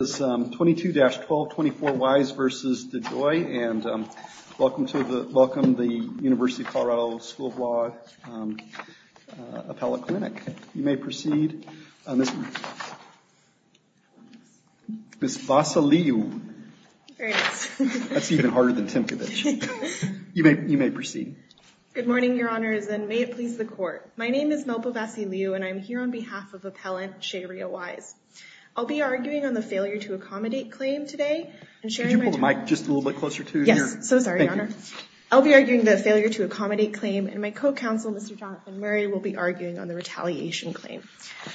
This is 22-12, 24 Wise v. DeJoy, and welcome to the University of Colorado School of Law Appellate Clinic. You may proceed, Ms. Vasiliu. Very nice. That's even harder than Timkovich. You may proceed. Good morning, your honors, and may it please the court. My name is Melba Vasiliu, and I'm here on behalf of Appellant Sheria Wise. I'll be arguing on the failure to accommodate claim today, and sharing my time. Could you hold the mic just a little bit closer to your... Yes, so sorry, your honor. Thank you. I'll be arguing the failure to accommodate claim, and my co-counsel, Mr. Jonathan Murray, will be arguing on the retaliation claim.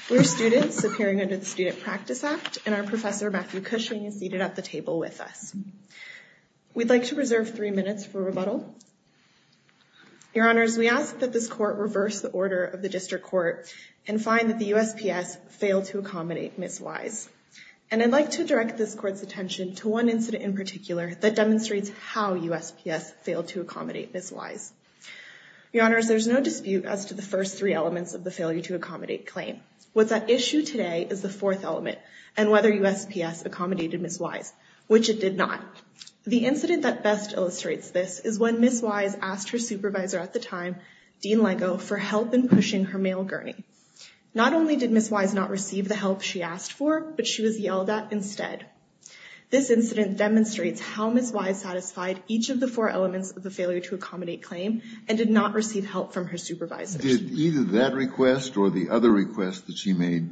We're students appearing under the Student Practice Act, and our professor, Matthew Cushing, is seated at the table with us. We'd like to reserve three minutes for rebuttal. Your honors, we ask that this court reverse the order of the district court, and find that the USPS failed to accommodate Ms. Wise. And I'd like to direct this court's attention to one incident in particular that demonstrates how USPS failed to accommodate Ms. Wise. Your honors, there's no dispute as to the first three elements of the failure to accommodate claim. What's at issue today is the fourth element, and whether USPS accommodated Ms. Wise, which it did not. The incident that best illustrates this is when Ms. Wise asked her supervisor at the time, Dean Leggo, for help in pushing her mail gurney. Not only did Ms. Wise not receive the help she asked for, but she was yelled at instead. This incident demonstrates how Ms. Wise satisfied each of the four elements of the failure to accommodate claim, and did not receive help from her supervisor. Did either that request or the other request that she made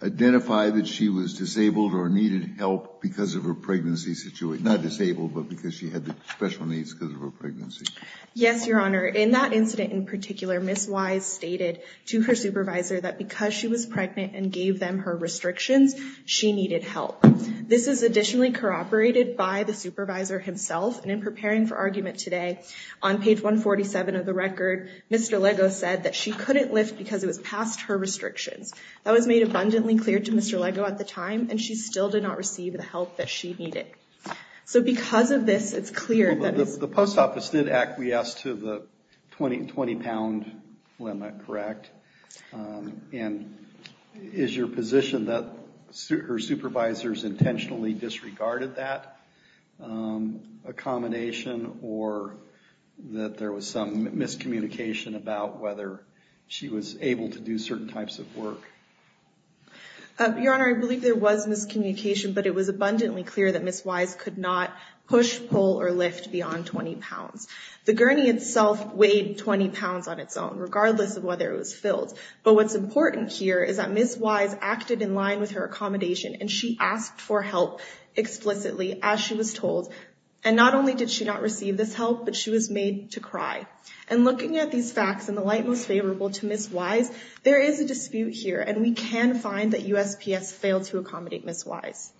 identify that she was disabled or needed help because of her pregnancy situation? Not disabled, but because she had special needs because of her pregnancy? Yes, your honor. In that incident in particular, Ms. Wise stated to her supervisor that because she was pregnant and gave them her restrictions, she needed help. This is additionally corroborated by the supervisor himself, and in preparing for argument today, on page 147 of the record, Mr. Leggo said that she couldn't lift because it was past her restrictions. That was made abundantly clear to Mr. Leggo at the time, and she still did not receive the help that she needed. So because of this, it's clear that it's- The post office did acquiesce to the 20 pound limit, correct? And is your position that her supervisors intentionally disregarded that accommodation or that there was some miscommunication about whether she was able to do certain types of work? Your honor, I believe there was miscommunication, but it was abundantly clear that Ms. Wise could not push, pull, or lift beyond 20 pounds. The gurney itself weighed 20 pounds on its own, regardless of whether it was filled. But what's important here is that Ms. Wise acted in line with her accommodation, and she asked for help explicitly, as she was told. And not only did she not receive this help, but she was made to cry. And looking at these facts in the light most favorable to Ms. Wise, there is a dispute here, and we can find that USPS failed to accommodate Ms. Wise.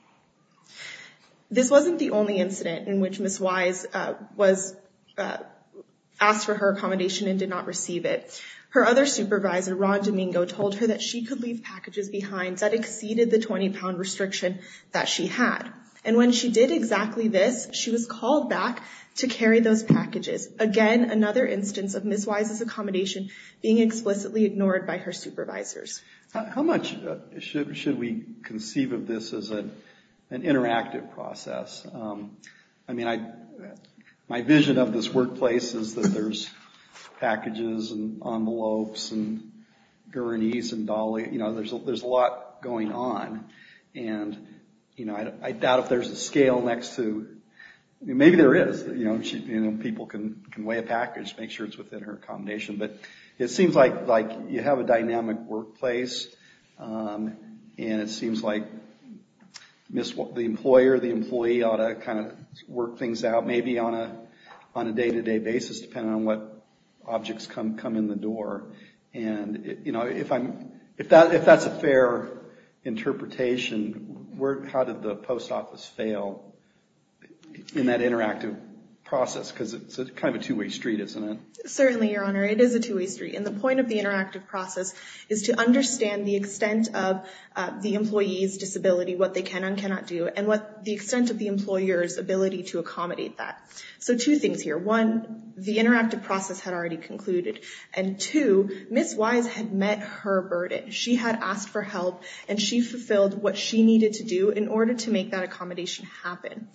This wasn't the only incident in which Ms. Wise was asked for her accommodation and did not receive it. Her other supervisor, Ron Domingo, told her that she could leave packages behind that exceeded the 20 pound restriction that she had. And when she did exactly this, she was called back to carry those packages. Again, another instance of Ms. Wise's accommodation being explicitly ignored by her supervisors. How much should we conceive of this as an interactive process? I mean, my vision of this workplace is that there's packages and envelopes and gurneys and dollies. You know, there's a lot going on, and, you know, I doubt if there's a scale next to... Maybe there is. You know, people can weigh a package, make sure it's within her accommodation, but it And it seems like the employer or the employee ought to kind of work things out, maybe on a day-to-day basis, depending on what objects come in the door. And you know, if that's a fair interpretation, how did the post office fail in that interactive process? Because it's kind of a two-way street, isn't it? Certainly, Your Honor. It is a two-way street. And the point of the interactive process is to understand the extent of the employee's disability, what they can and cannot do, and the extent of the employer's ability to accommodate that. So two things here. One, the interactive process had already concluded. And two, Ms. Wise had met her burden. She had asked for help, and she fulfilled what she needed to do in order to make that accommodation happen.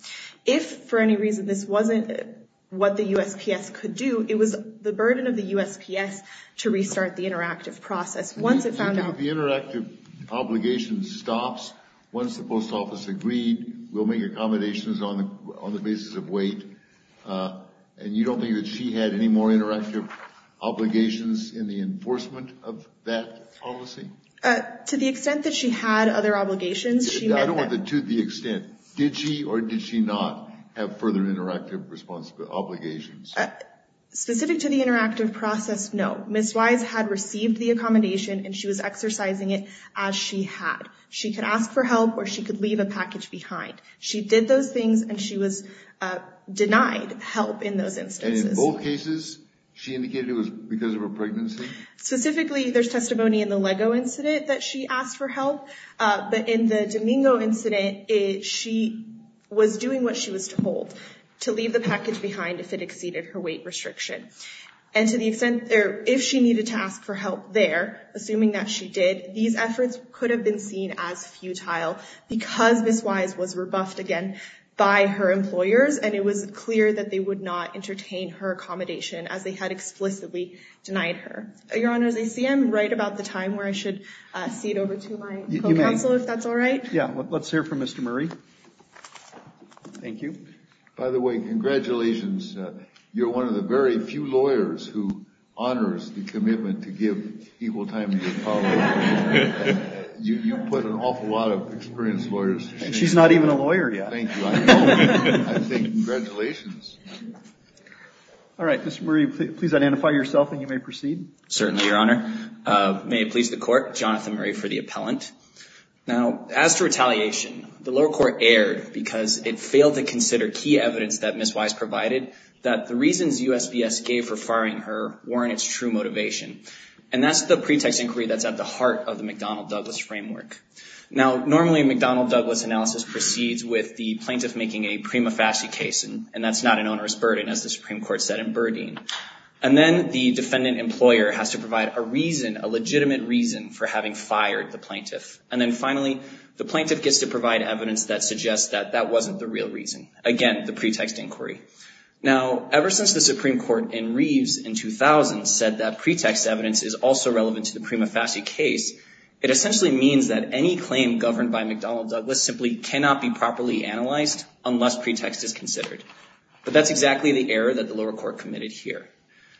If for any reason this wasn't what the USPS could do, it was the burden of the USPS to restart the interactive process. Once it found out The interactive obligation stops once the post office agreed, we'll make accommodations on the basis of weight, and you don't think that she had any more interactive obligations in the enforcement of that policy? To the extent that she had other obligations, she met them. I don't want the to the extent. Did she or did she not have further interactive obligations? Specific to the interactive process, no. Ms. Wise had received the accommodation, and she was exercising it as she had. She could ask for help, or she could leave a package behind. She did those things, and she was denied help in those instances. And in both cases, she indicated it was because of her pregnancy? Specifically, there's testimony in the Lego incident that she asked for help. But in the Domingo incident, she was doing what she was told, to leave the package behind if it exceeded her weight restriction. And to the extent, if she needed to ask for help there, assuming that she did, these efforts could have been seen as futile because Ms. Wise was rebuffed again by her employers, and it was clear that they would not entertain her accommodation as they had explicitly denied her. Your Honor, as I see, I'm right about the time where I should cede over to my co-counsel if that's all right? Yeah. Let's hear from Mr. Murray. Thank you. By the way, congratulations. You're one of the very few lawyers who honors the commitment to give equal time to a colleague. You put an awful lot of experienced lawyers. And she's not even a lawyer yet. Thank you. I know. I think, congratulations. Thank you. Thank you. Thank you. Thank you. Thank you. Thank you. Thank you. Thank you. Thank you. Thank you. Thank you. Thank you. Thank you. Certainly, Your Honor. May it please the court, Jonathan Murray for the appellant. Now, as for retaliation, the lower court erred because it failed to consider key evidence that Ms. Wise provided, that the reasons USBS gave for firing her weren't its true motivation, and that's the pretext inquiry that's at the heart of the McDonnell-Douglas framework. Now, normally, a McDonnell-Douglas analysis proceeds with the plaintiff making a prima facie case, and that's not an onerous burden as the Supreme Court said in Burdine. And then the defendant employer has to provide a reason, a legitimate reason for having fired the plaintiff. And then finally, the plaintiff gets to provide evidence that suggests that that wasn't the real reason. Again, the pretext inquiry. Now, ever since the Supreme Court in Reeves in 2000 said that pretext evidence is also relevant to the prima facie case, it essentially means that any claim governed by McDonnell-Douglas simply cannot be properly analyzed unless pretext is considered. But that's exactly the error that the lower court committed here.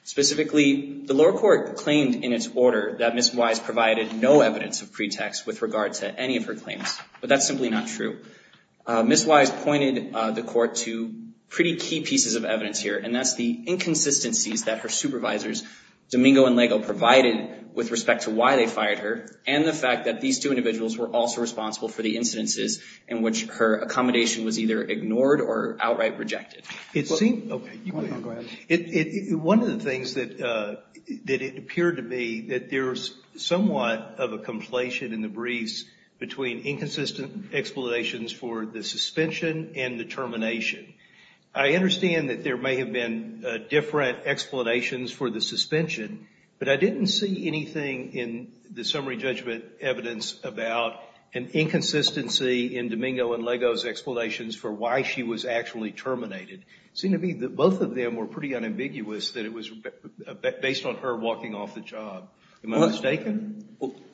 Specifically, the lower court claimed in its order that Ms. Wise provided no evidence of pretext with regard to any of her claims, but that's simply not true. Ms. Wise pointed the court to pretty key pieces of evidence here, and that's the inconsistencies that her supervisors, Domingo and Leggo, provided with respect to why they fired her and the fact that these two individuals were also responsible for the incidences in which her case was affected. One of the things that it appeared to be that there's somewhat of a conflation in the briefs between inconsistent explanations for the suspension and the termination. I understand that there may have been different explanations for the suspension, but I didn't see anything in the summary judgment evidence about an inconsistency in Domingo and Leggo's explanations for why she was actually terminated. It seemed to me that both of them were pretty unambiguous, that it was based on her walking off the job. Am I mistaken?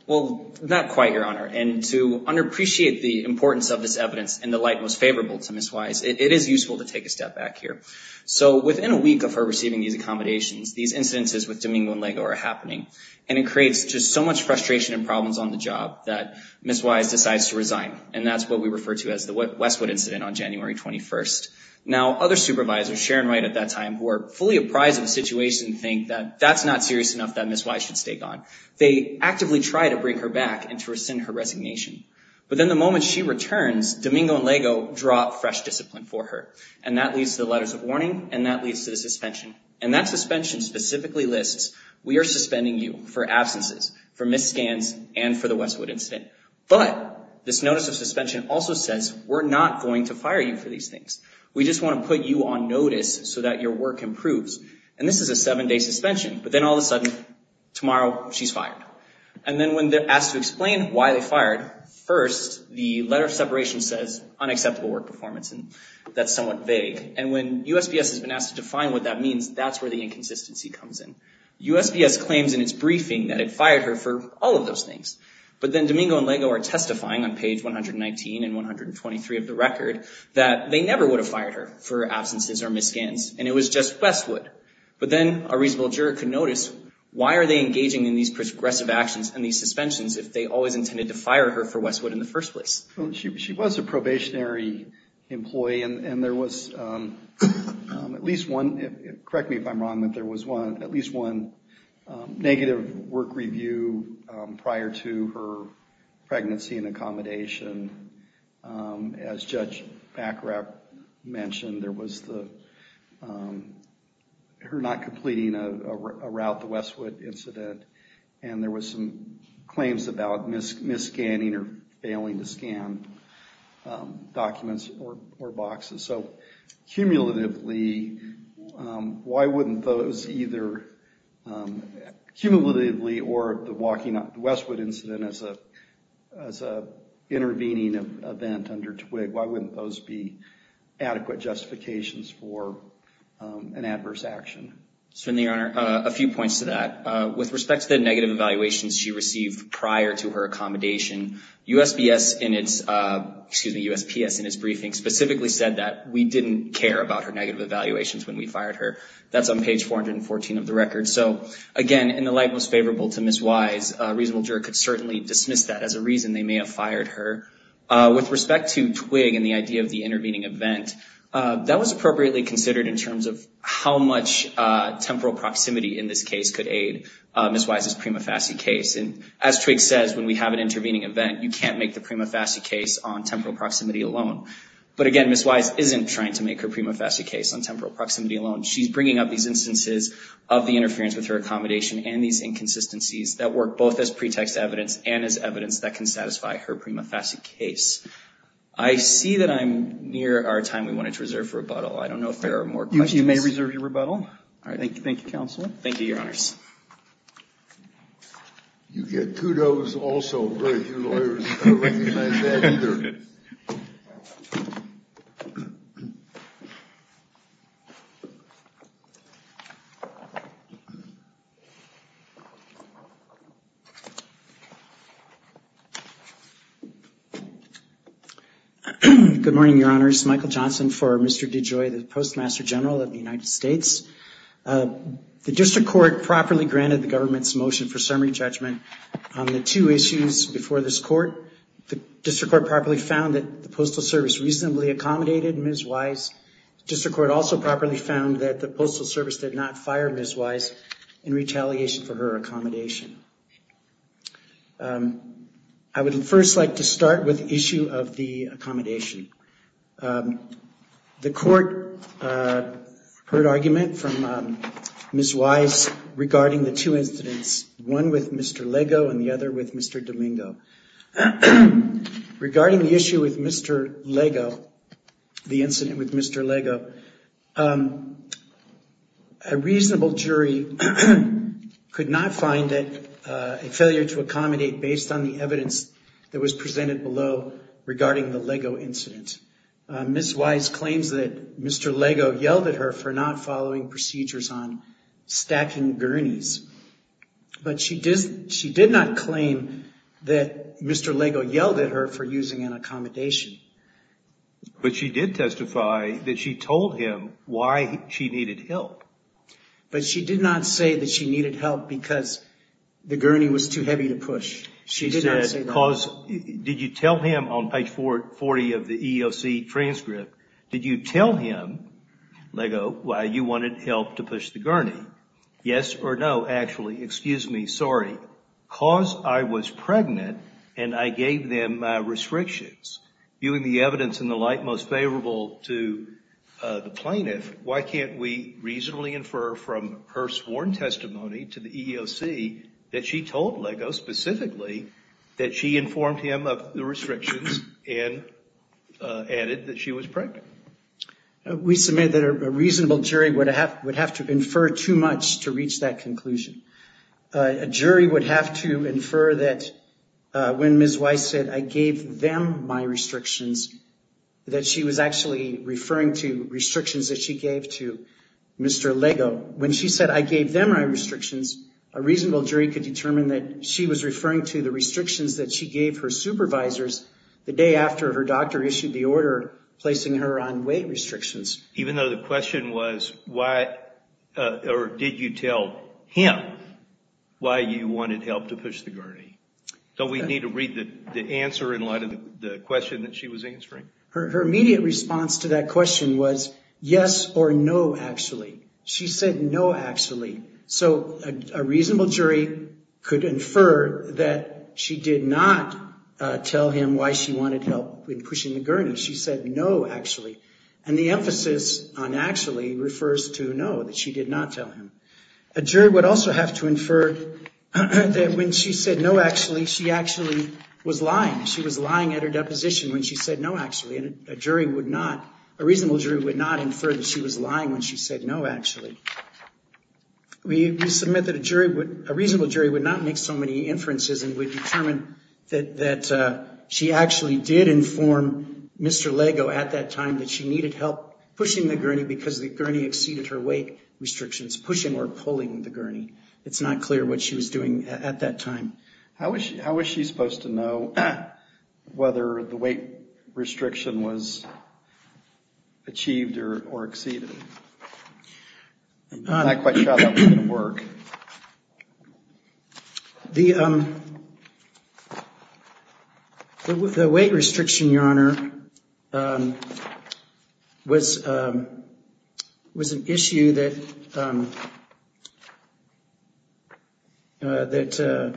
Well, not quite, Your Honor, and to underappreciate the importance of this evidence and the light most favorable to Ms. Wise, it is useful to take a step back here. So within a week of her receiving these accommodations, these incidences with Domingo and Leggo are happening and it creates just so much frustration and problems on the job that Ms. Wise decides to resign. And that's what we refer to as the Westwood incident on January 21st. Now other supervisors, Sharon Wright at that time, were fully apprised of the situation and think that that's not serious enough, that Ms. Wise should stay gone. They actively try to bring her back and to rescind her resignation. But then the moment she returns, Domingo and Leggo drop fresh discipline for her. And that leads to the letters of warning and that leads to the suspension. And that suspension specifically lists, we are suspending you for absences, for missed scans and for the Westwood incident. But this notice of suspension also says, we're not going to fire you for these things. We just want to put you on notice so that your work improves. And this is a seven-day suspension, but then all of a sudden, tomorrow she's fired. And then when they're asked to explain why they fired, first the letter of separation says unacceptable work performance and that's somewhat vague. And when USPS has been asked to define what that means, that's where the inconsistency comes in. USPS claims in its briefing that it fired her for all of those things. But then Domingo and Leggo are testifying on page 119 and 123 of the record that they never would have fired her for absences or missed scans and it was just Westwood. But then a reasonable juror could notice, why are they engaging in these progressive actions and these suspensions if they always intended to fire her for Westwood in the first place? She was a probationary employee and there was at least one, correct me if I'm wrong, but there was at least one negative work review prior to her pregnancy and accommodation. As Judge Bacarab mentioned, there was her not completing a route, the Westwood incident, and there was some claims about misscanning or failing to scan documents or boxes. So cumulatively, why wouldn't those either, cumulatively or the Westwood incident as an intervening event under TWIG, why wouldn't those be adequate justifications for an adverse action? So in the honor, a few points to that. With respect to the negative evaluations she received prior to her accommodation, USPS in its, excuse me, USPS in its briefing specifically said that we didn't care about her negative evaluations when we fired her. That's on page 414 of the record. So again, in the light most favorable to Ms. Wise, a reasonable juror could certainly dismiss that as a reason they may have fired her. With respect to TWIG and the idea of the intervening event, that was appropriately considered in terms of how much temporal proximity in this case could aid Ms. Wise's prima facie case. And as TWIG says, when we have an intervening event, you can't make the prima facie case on temporal proximity alone. But again, Ms. Wise isn't trying to make her prima facie case on temporal proximity alone. She's bringing up these instances of the interference with her accommodation and these inconsistencies that work both as pretext evidence and as evidence that can satisfy her prima facie case. I see that I'm near our time we wanted to reserve for rebuttal. I don't know if there are more questions. You may reserve your rebuttal. All right. Thank you. Thank you, counsel. Thank you, your honors. You get kudos also from your lawyers covering the United States Court of Appeals. Good morning, your honors. Michael Johnson for Mr. DeJoy, the Postmaster General of the United States. The district court properly granted the government's motion for summary judgment on the two issues before this court. The district court properly found that the Postal Service reasonably accommodated Ms. Wise. The district court also properly found that the Postal Service did not fire Ms. Wise in retaliation for her accommodation. I would first like to start with the issue of the accommodation. The court heard argument from Ms. Wise regarding the two incidents, one with Mr. Leggo and the other with Mr. Domingo. Regarding the issue with Mr. Leggo, the incident with Mr. Leggo, a reasonable jury could not find it a failure to accommodate based on the evidence that was presented below regarding the Leggo incident. Ms. Wise claims that Mr. Leggo yelled at her for not following procedures on stacking gurneys, but she did not claim that Mr. Leggo yelled at her for using an accommodation. But she did testify that she told him why she needed help. But she did not say that she needed help because the gurney was too heavy to push. She said, did you tell him on page 40 of the EEOC transcript, did you tell him, Leggo, why you wanted help to push the gurney? Yes or no, actually, excuse me, sorry, because I was pregnant and I gave them my restrictions. Viewing the evidence and the like most favorable to the plaintiff, why can't we reasonably infer from her sworn testimony to the EEOC that she told Leggo specifically that she informed him of the restrictions and added that she was pregnant? We submit that a reasonable jury would have to infer too much to reach that conclusion. A jury would have to infer that when Ms. Wise said, I gave them my restrictions, that she was actually referring to restrictions that she gave to Mr. Leggo. When she said, I gave them my restrictions, a reasonable jury could determine that she was referring to the restrictions that she gave her supervisors the day after her doctor issued the order placing her on weight restrictions. Even though the question was, why, or did you tell him why you wanted help to push the gurney? Don't we need to read the answer in light of the question that she was answering? Her immediate response to that question was, yes or no, actually. She said, no, actually. So a reasonable jury could infer that she did not tell him why she wanted help in pushing the gurney. She said, no, actually. And the emphasis on actually refers to no, that she did not tell him. A jury would also have to infer that when she said, no, actually, she actually was lying. She was lying at her deposition when she said, no, actually. And a jury would not, a reasonable jury would not infer that she was lying when she said, no, actually. We submit that a jury would, a reasonable jury would not make so many inferences and would determine that she actually did inform Mr. Leggo at that time that she needed help pushing the gurney because the gurney exceeded her weight restrictions, pushing or pulling the gurney. It's not clear what she was doing at that time. How was she, how was she supposed to know whether the weight restriction was achieved or exceeded? I'm not quite sure how that was going to work. The, um, the weight restriction, Your Honor, um, was, um, was an issue that, um, uh, that, uh,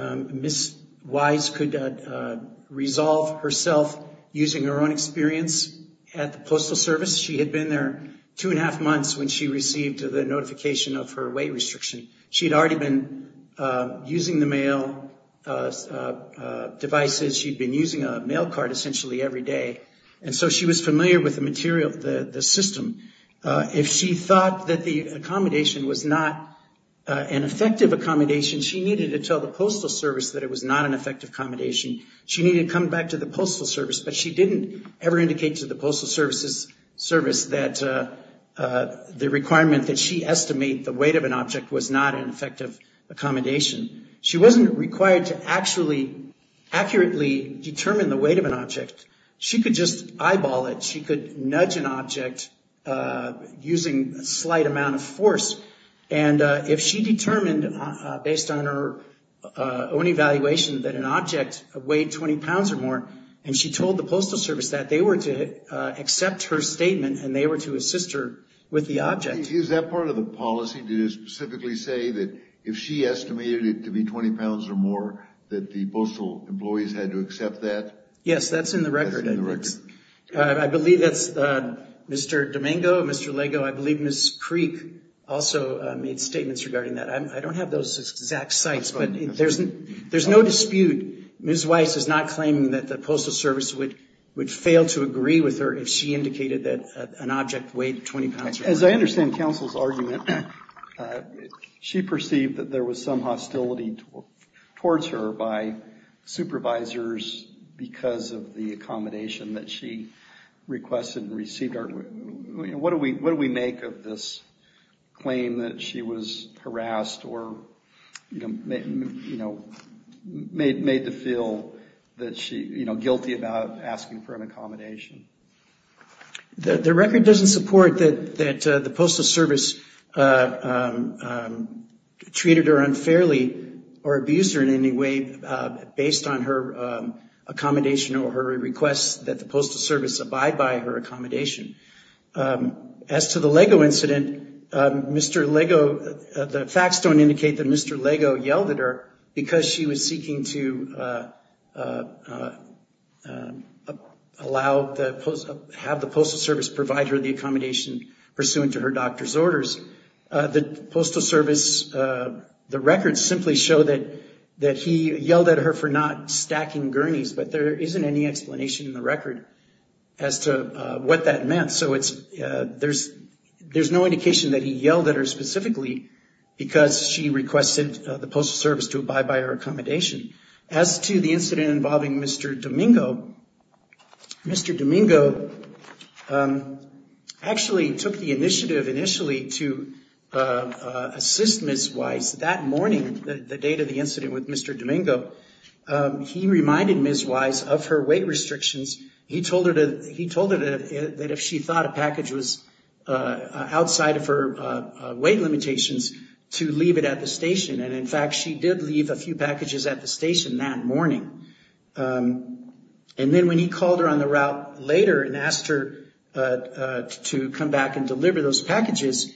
um, Ms. Wise could, uh, uh, resolve herself using her own experience at the Postal Service. She had been there two and a half months when she received the notification of her weight restriction. She had already been, uh, using the mail, uh, uh, uh, devices. She'd been using a mail card essentially every day. And so she was familiar with the material, the, the system. If she thought that the accommodation was not, uh, an effective accommodation, she needed to tell the Postal Service that it was not an effective accommodation. She needed to come back to the Postal Service, but she didn't ever indicate to the Postal Services service that, uh, uh, the requirement that she estimate the weight of an object was not an effective accommodation. She wasn't required to actually accurately determine the weight of an object. She could just eyeball it. She could nudge an object, uh, using a slight amount of force. And, uh, if she determined, uh, uh, based on her, uh, own evaluation that an object weighed 20 pounds or more, and she told the Postal Service that they were to, uh, accept her statement and they were to assist her with the object. Is that part of the policy to specifically say that if she estimated it to be 20 pounds or more, that the postal employees had to accept that? That's in the record. Yes. I believe that's, uh, Mr. Domingo, Mr. Leggo, I believe Ms. Creek also, uh, made statements regarding that. I'm, I don't have those exact sites, but there's, there's no dispute, Ms. Weiss is not claiming that the Postal Service would, would fail to agree with her if she indicated that, uh, an object weighed 20 pounds or more. As I understand counsel's argument, uh, she perceived that there was some hostility towards her by supervisors because of the accommodation that she requested and received. What do we, what do we make of this claim that she was harassed or, you know, made, you know, made, made the feel that she, you know, guilty about asking for an accommodation? The record doesn't support that, that, uh, the Postal Service, uh, um, um, treated her in a way, uh, based on her, um, accommodation or her requests that the Postal Service abide by her accommodation. Um, as to the Leggo incident, um, Mr. Leggo, uh, the facts don't indicate that Mr. Leggo yelled at her because she was seeking to, uh, uh, uh, uh, uh, allow the Postal, have the Postal Service provide her the accommodation pursuant to her doctor's orders. Uh, the Postal Service, uh, the records simply show that, that he yelled at her for not stacking gurneys, but there isn't any explanation in the record as to, uh, what that meant. So it's, uh, there's, there's no indication that he yelled at her specifically because she requested, uh, the Postal Service to abide by her accommodation. As to the incident involving Mr. Domingo, Mr. Domingo, um, actually took the initiative initially to, uh, uh, assist Ms. Wise that morning, the, the date of the incident with Mr. Domingo, um, he reminded Ms. Wise of her weight restrictions. He told her to, he told her that if, that if she thought a package was, uh, uh, outside of her, uh, uh, weight limitations to leave it at the station, and in fact, she did leave a few packages at the station that morning, um, and then when he called her on the route later and asked her, uh, uh, to come back and deliver those packages,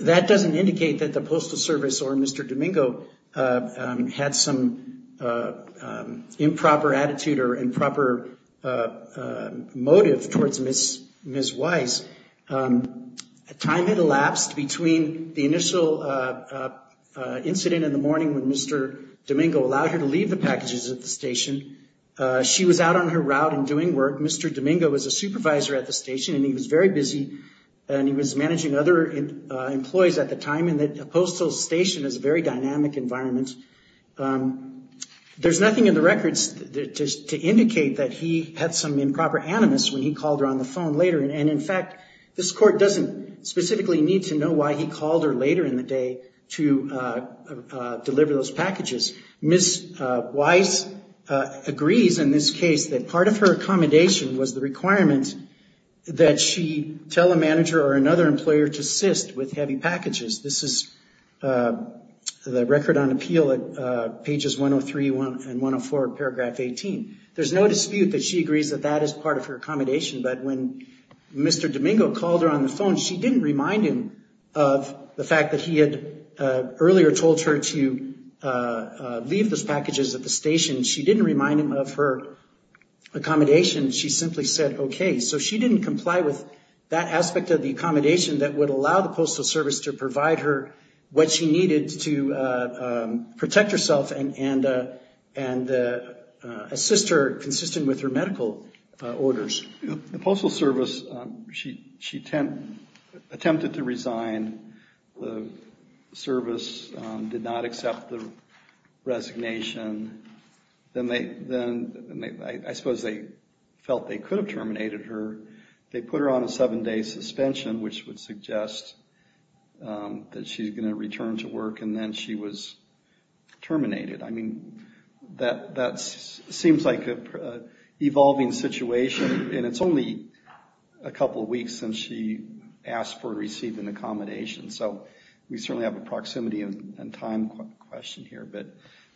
that doesn't indicate that the Postal Service or Mr. Domingo, uh, um, had some, uh, um, improper attitude or improper, uh, uh, motive towards Ms., Ms. Wise. Um, at time it elapsed between the initial, uh, uh, uh, incident in the morning when Mr. Domingo allowed her to leave the packages at the station, uh, she was out on her route and doing work. Mr. Domingo was a supervisor at the station, and he was very busy, and he was managing other, uh, employees at the time, and that a postal station is a very dynamic environment. Um, there's nothing in the records to, to, to indicate that he had some improper animus when he called her on the phone later, and, and in fact, this court doesn't specifically need to know why he called her later in the day to, uh, uh, uh, deliver those packages. Ms., uh, Wise, uh, agrees in this case that part of her accommodation was the requirement that she tell a manager or another employer to assist with heavy packages. This is, uh, the record on appeal at, uh, pages 103 and 104, paragraph 18. There's no dispute that she agrees that that is part of her accommodation, but when Mr. Domingo called her on the phone, she didn't remind him of the fact that he had, uh, earlier told her to, uh, uh, leave those packages at the station. She didn't remind him of her accommodation. She simply said, okay. So she didn't comply with that aspect of the accommodation that would allow the Postal Service to provide her what she needed to, uh, um, protect herself and, and, uh, and, uh, uh, assist her consistent with her medical, uh, orders. The Postal Service, um, she, she tent, attempted to resign. The service, um, did not accept the resignation. Then they, then they, I suppose they felt they could have terminated her. They put her on a seven day suspension, which would suggest, um, that she's going to return to work and then she was terminated. I mean, that, that's, seems like a, uh, evolving situation and it's only a couple of weeks since she asked for or received an accommodation. So we certainly have a proximity and time question here, but,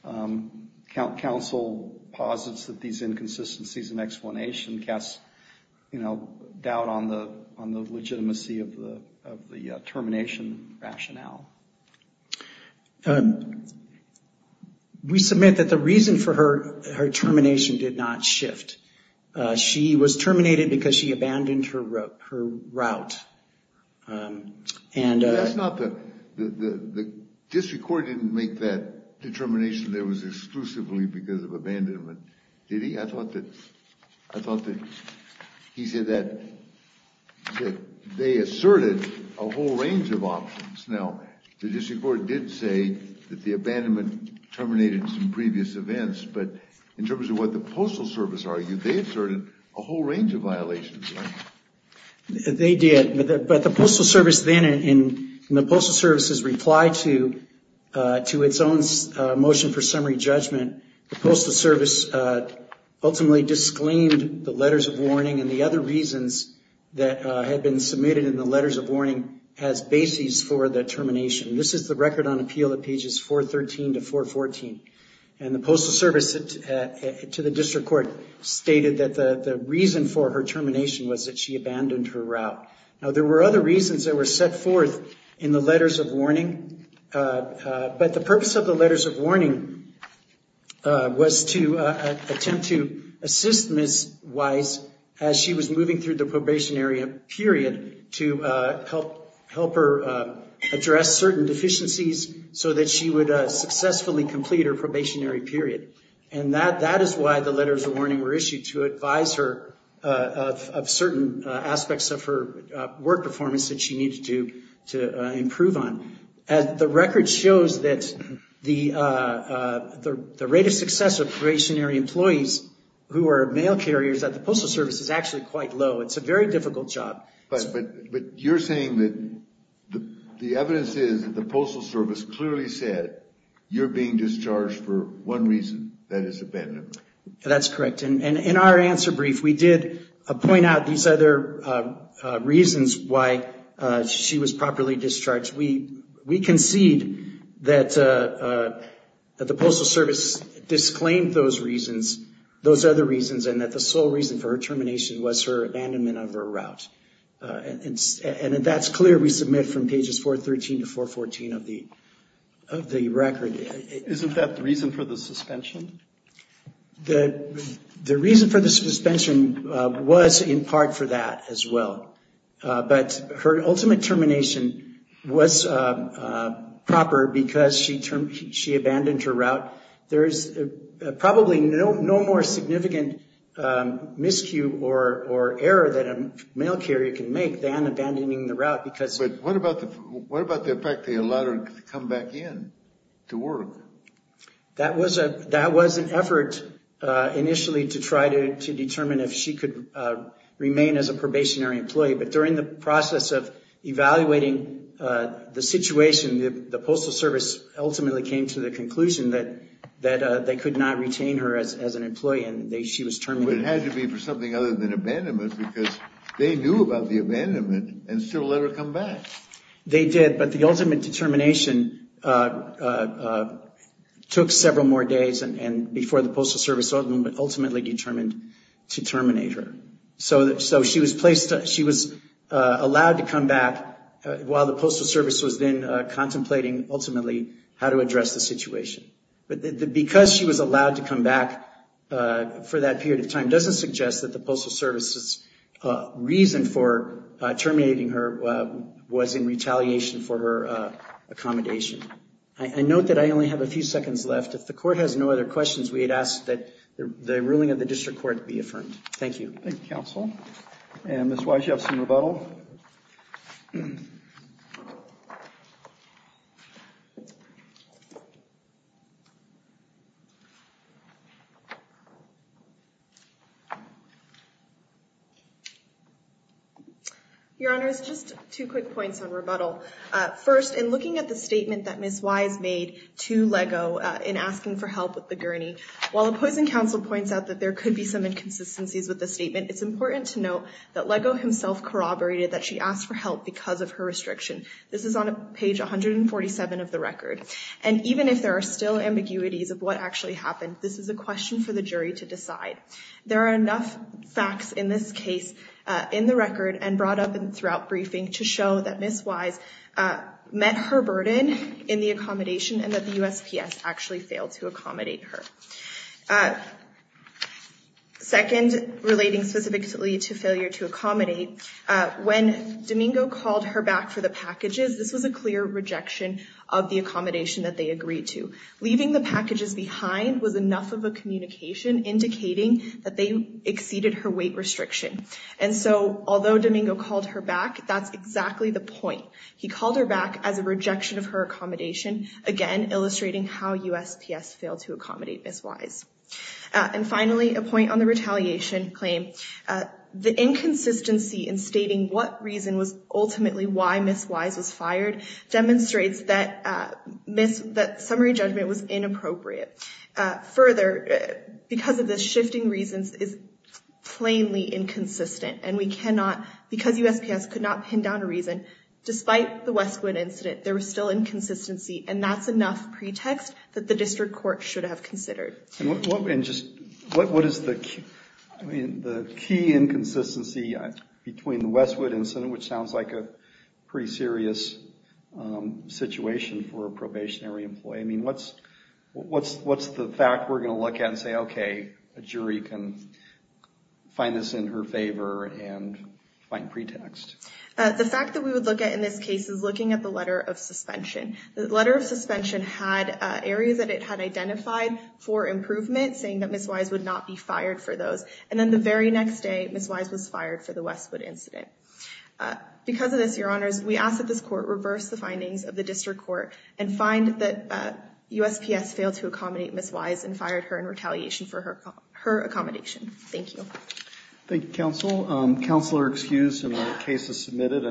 um, coun, counsel posits that these inconsistencies in explanation casts, you know, doubt on the, on the legitimacy of the, of the, uh, termination rationale. Um, we submit that the reason for her, her termination did not shift. Uh, she was terminated because she abandoned her, her route. Um, and, uh. That's not the, the, the district court didn't make that determination that it was exclusively because of abandonment, did he? I thought that, I thought that he said that, that they asserted a whole range of options. Now, the district court did say that the abandonment terminated some previous events, but in terms of what the postal service argued, they asserted a whole range of violations, right? They did, but the, but the postal service then in the postal services replied to, uh, to its own, uh, motion for summary judgment, the postal service, uh, ultimately disclaimed the letters of warning and the other reasons that, uh, had been submitted in the letters of warning as basis for the termination. This is the record on appeal at pages 413 to 414. And the postal service, uh, to the district court stated that the, the reason for her termination was that she abandoned her route. Now, there were other reasons that were set forth in the letters of warning, uh, uh, but the purpose of the letters of warning, uh, was to, uh, attempt to assist Ms. Wise as she was moving through the probationary period to, uh, help, help her, uh, address certain deficiencies so that she would, uh, successfully complete her probationary period. And that, that is why the letters of warning were issued to advise her, uh, of, of certain, uh, aspects of her, uh, work performance that she needed to, to, uh, improve on. As the record shows that the, uh, uh, the, the rate of success of probationary employees who are mail carriers at the postal service is actually quite low. It's a very difficult job. But, but, but you're saying that the evidence is that the postal service clearly said you're being discharged for one reason, that is abandonment. That's correct. And in our answer brief, we did, uh, point out these other, uh, uh, reasons why, uh, she was properly discharged. We, we concede that, uh, uh, that the postal service disclaimed those reasons, those other reasons, and that the sole reason for her termination was her abandonment of her route. Uh, and, and that's clear. We submit from pages 413 to 414 of the, of the record. Isn't that the reason for the suspension? The, the reason for the suspension, uh, was in part for that as well. Uh, but her ultimate termination was, uh, uh, proper because she term, she abandoned her route. There is probably no, no more significant, um, miscue or, or error that a mail carrier can make than abandoning the route because... But what about the, what about the fact that they allowed her to come back in to work? That was a, that was an effort, uh, initially to try to, to determine if she could, uh, remain as a probationary employee. But during the process of evaluating, uh, the situation, the, the postal service ultimately came to the conclusion that, that, uh, they could not retain her as, as an employee and they, she was terminated. But it had to be for something other than abandonment because they knew about the abandonment and still let her come back. They did, but the ultimate determination, uh, uh, uh, took several more days and, and before the postal service ultimately determined to terminate her. So, so she was placed, she was, uh, allowed to come back, uh, while the postal service was then, uh, contemplating ultimately how to address the situation. But the, the, because she was allowed to come back, uh, for that period of time doesn't suggest that the postal service's, uh, reason for, uh, terminating her, uh, was in retaliation for her, uh, accommodation. I, I note that I only have a few seconds left. If the court has no other questions, we had asked that the, the ruling of the district court be affirmed. Thank you. Thank you, counsel. And Ms. Wise, do you have some rebuttal? Your Honors, just two quick points on rebuttal. Uh, first, in looking at the statement that Ms. Wise made to LEGO, uh, in asking for help with the gurney, while opposing counsel points out that there could be some inconsistencies with the statement, it's important to note that LEGO himself corroborated that she asked for help because of her restriction. This is on page 147 of the record. And even if there are still ambiguities of what actually happened, this is a question for the jury to decide. There are enough facts in this case, uh, in the record and brought up throughout briefing to show that Ms. Wise, uh, met her burden in the accommodation and that the USPS actually failed to accommodate her. Uh, second, relating specifically to failure to accommodate, uh, when Domingo called her back for the packages, this was a clear rejection of the accommodation that they agreed to. Leaving the packages behind was enough of a communication indicating that they exceeded her weight restriction. And so, although Domingo called her back, that's exactly the point. He called her back as a rejection of her accommodation, again, illustrating how USPS failed to accommodate Ms. Wise. Uh, and finally, a point on the retaliation claim, uh, the inconsistency in stating what reason was ultimately why Ms. Wise was fired demonstrates that, uh, Ms., that summary judgment was inappropriate. Uh, further, uh, because of the shifting reasons is plainly inconsistent and we cannot, because despite the Westwood incident, there was still inconsistency and that's enough pretext that the district court should have considered. And what, what, and just, what, what is the, I mean, the key inconsistency between the Westwood incident, which sounds like a pretty serious, um, situation for a probationary employee. I mean, what's, what's, what's the fact we're going to look at and say, okay, a jury can find this in her favor and find pretext? Uh, the fact that we would look at in this case is looking at the letter of suspension. The letter of suspension had, uh, areas that it had identified for improvement, saying that Ms. Wise would not be fired for those. And then the very next day, Ms. Wise was fired for the Westwood incident. Uh, because of this, your honors, we ask that this court reverse the findings of the district court and find that, uh, USPS failed to accommodate Ms. Wise and fired her in retaliation for her, her accommodation. Thank you. Thank you, counsel. Counsel are excused and the case is submitted.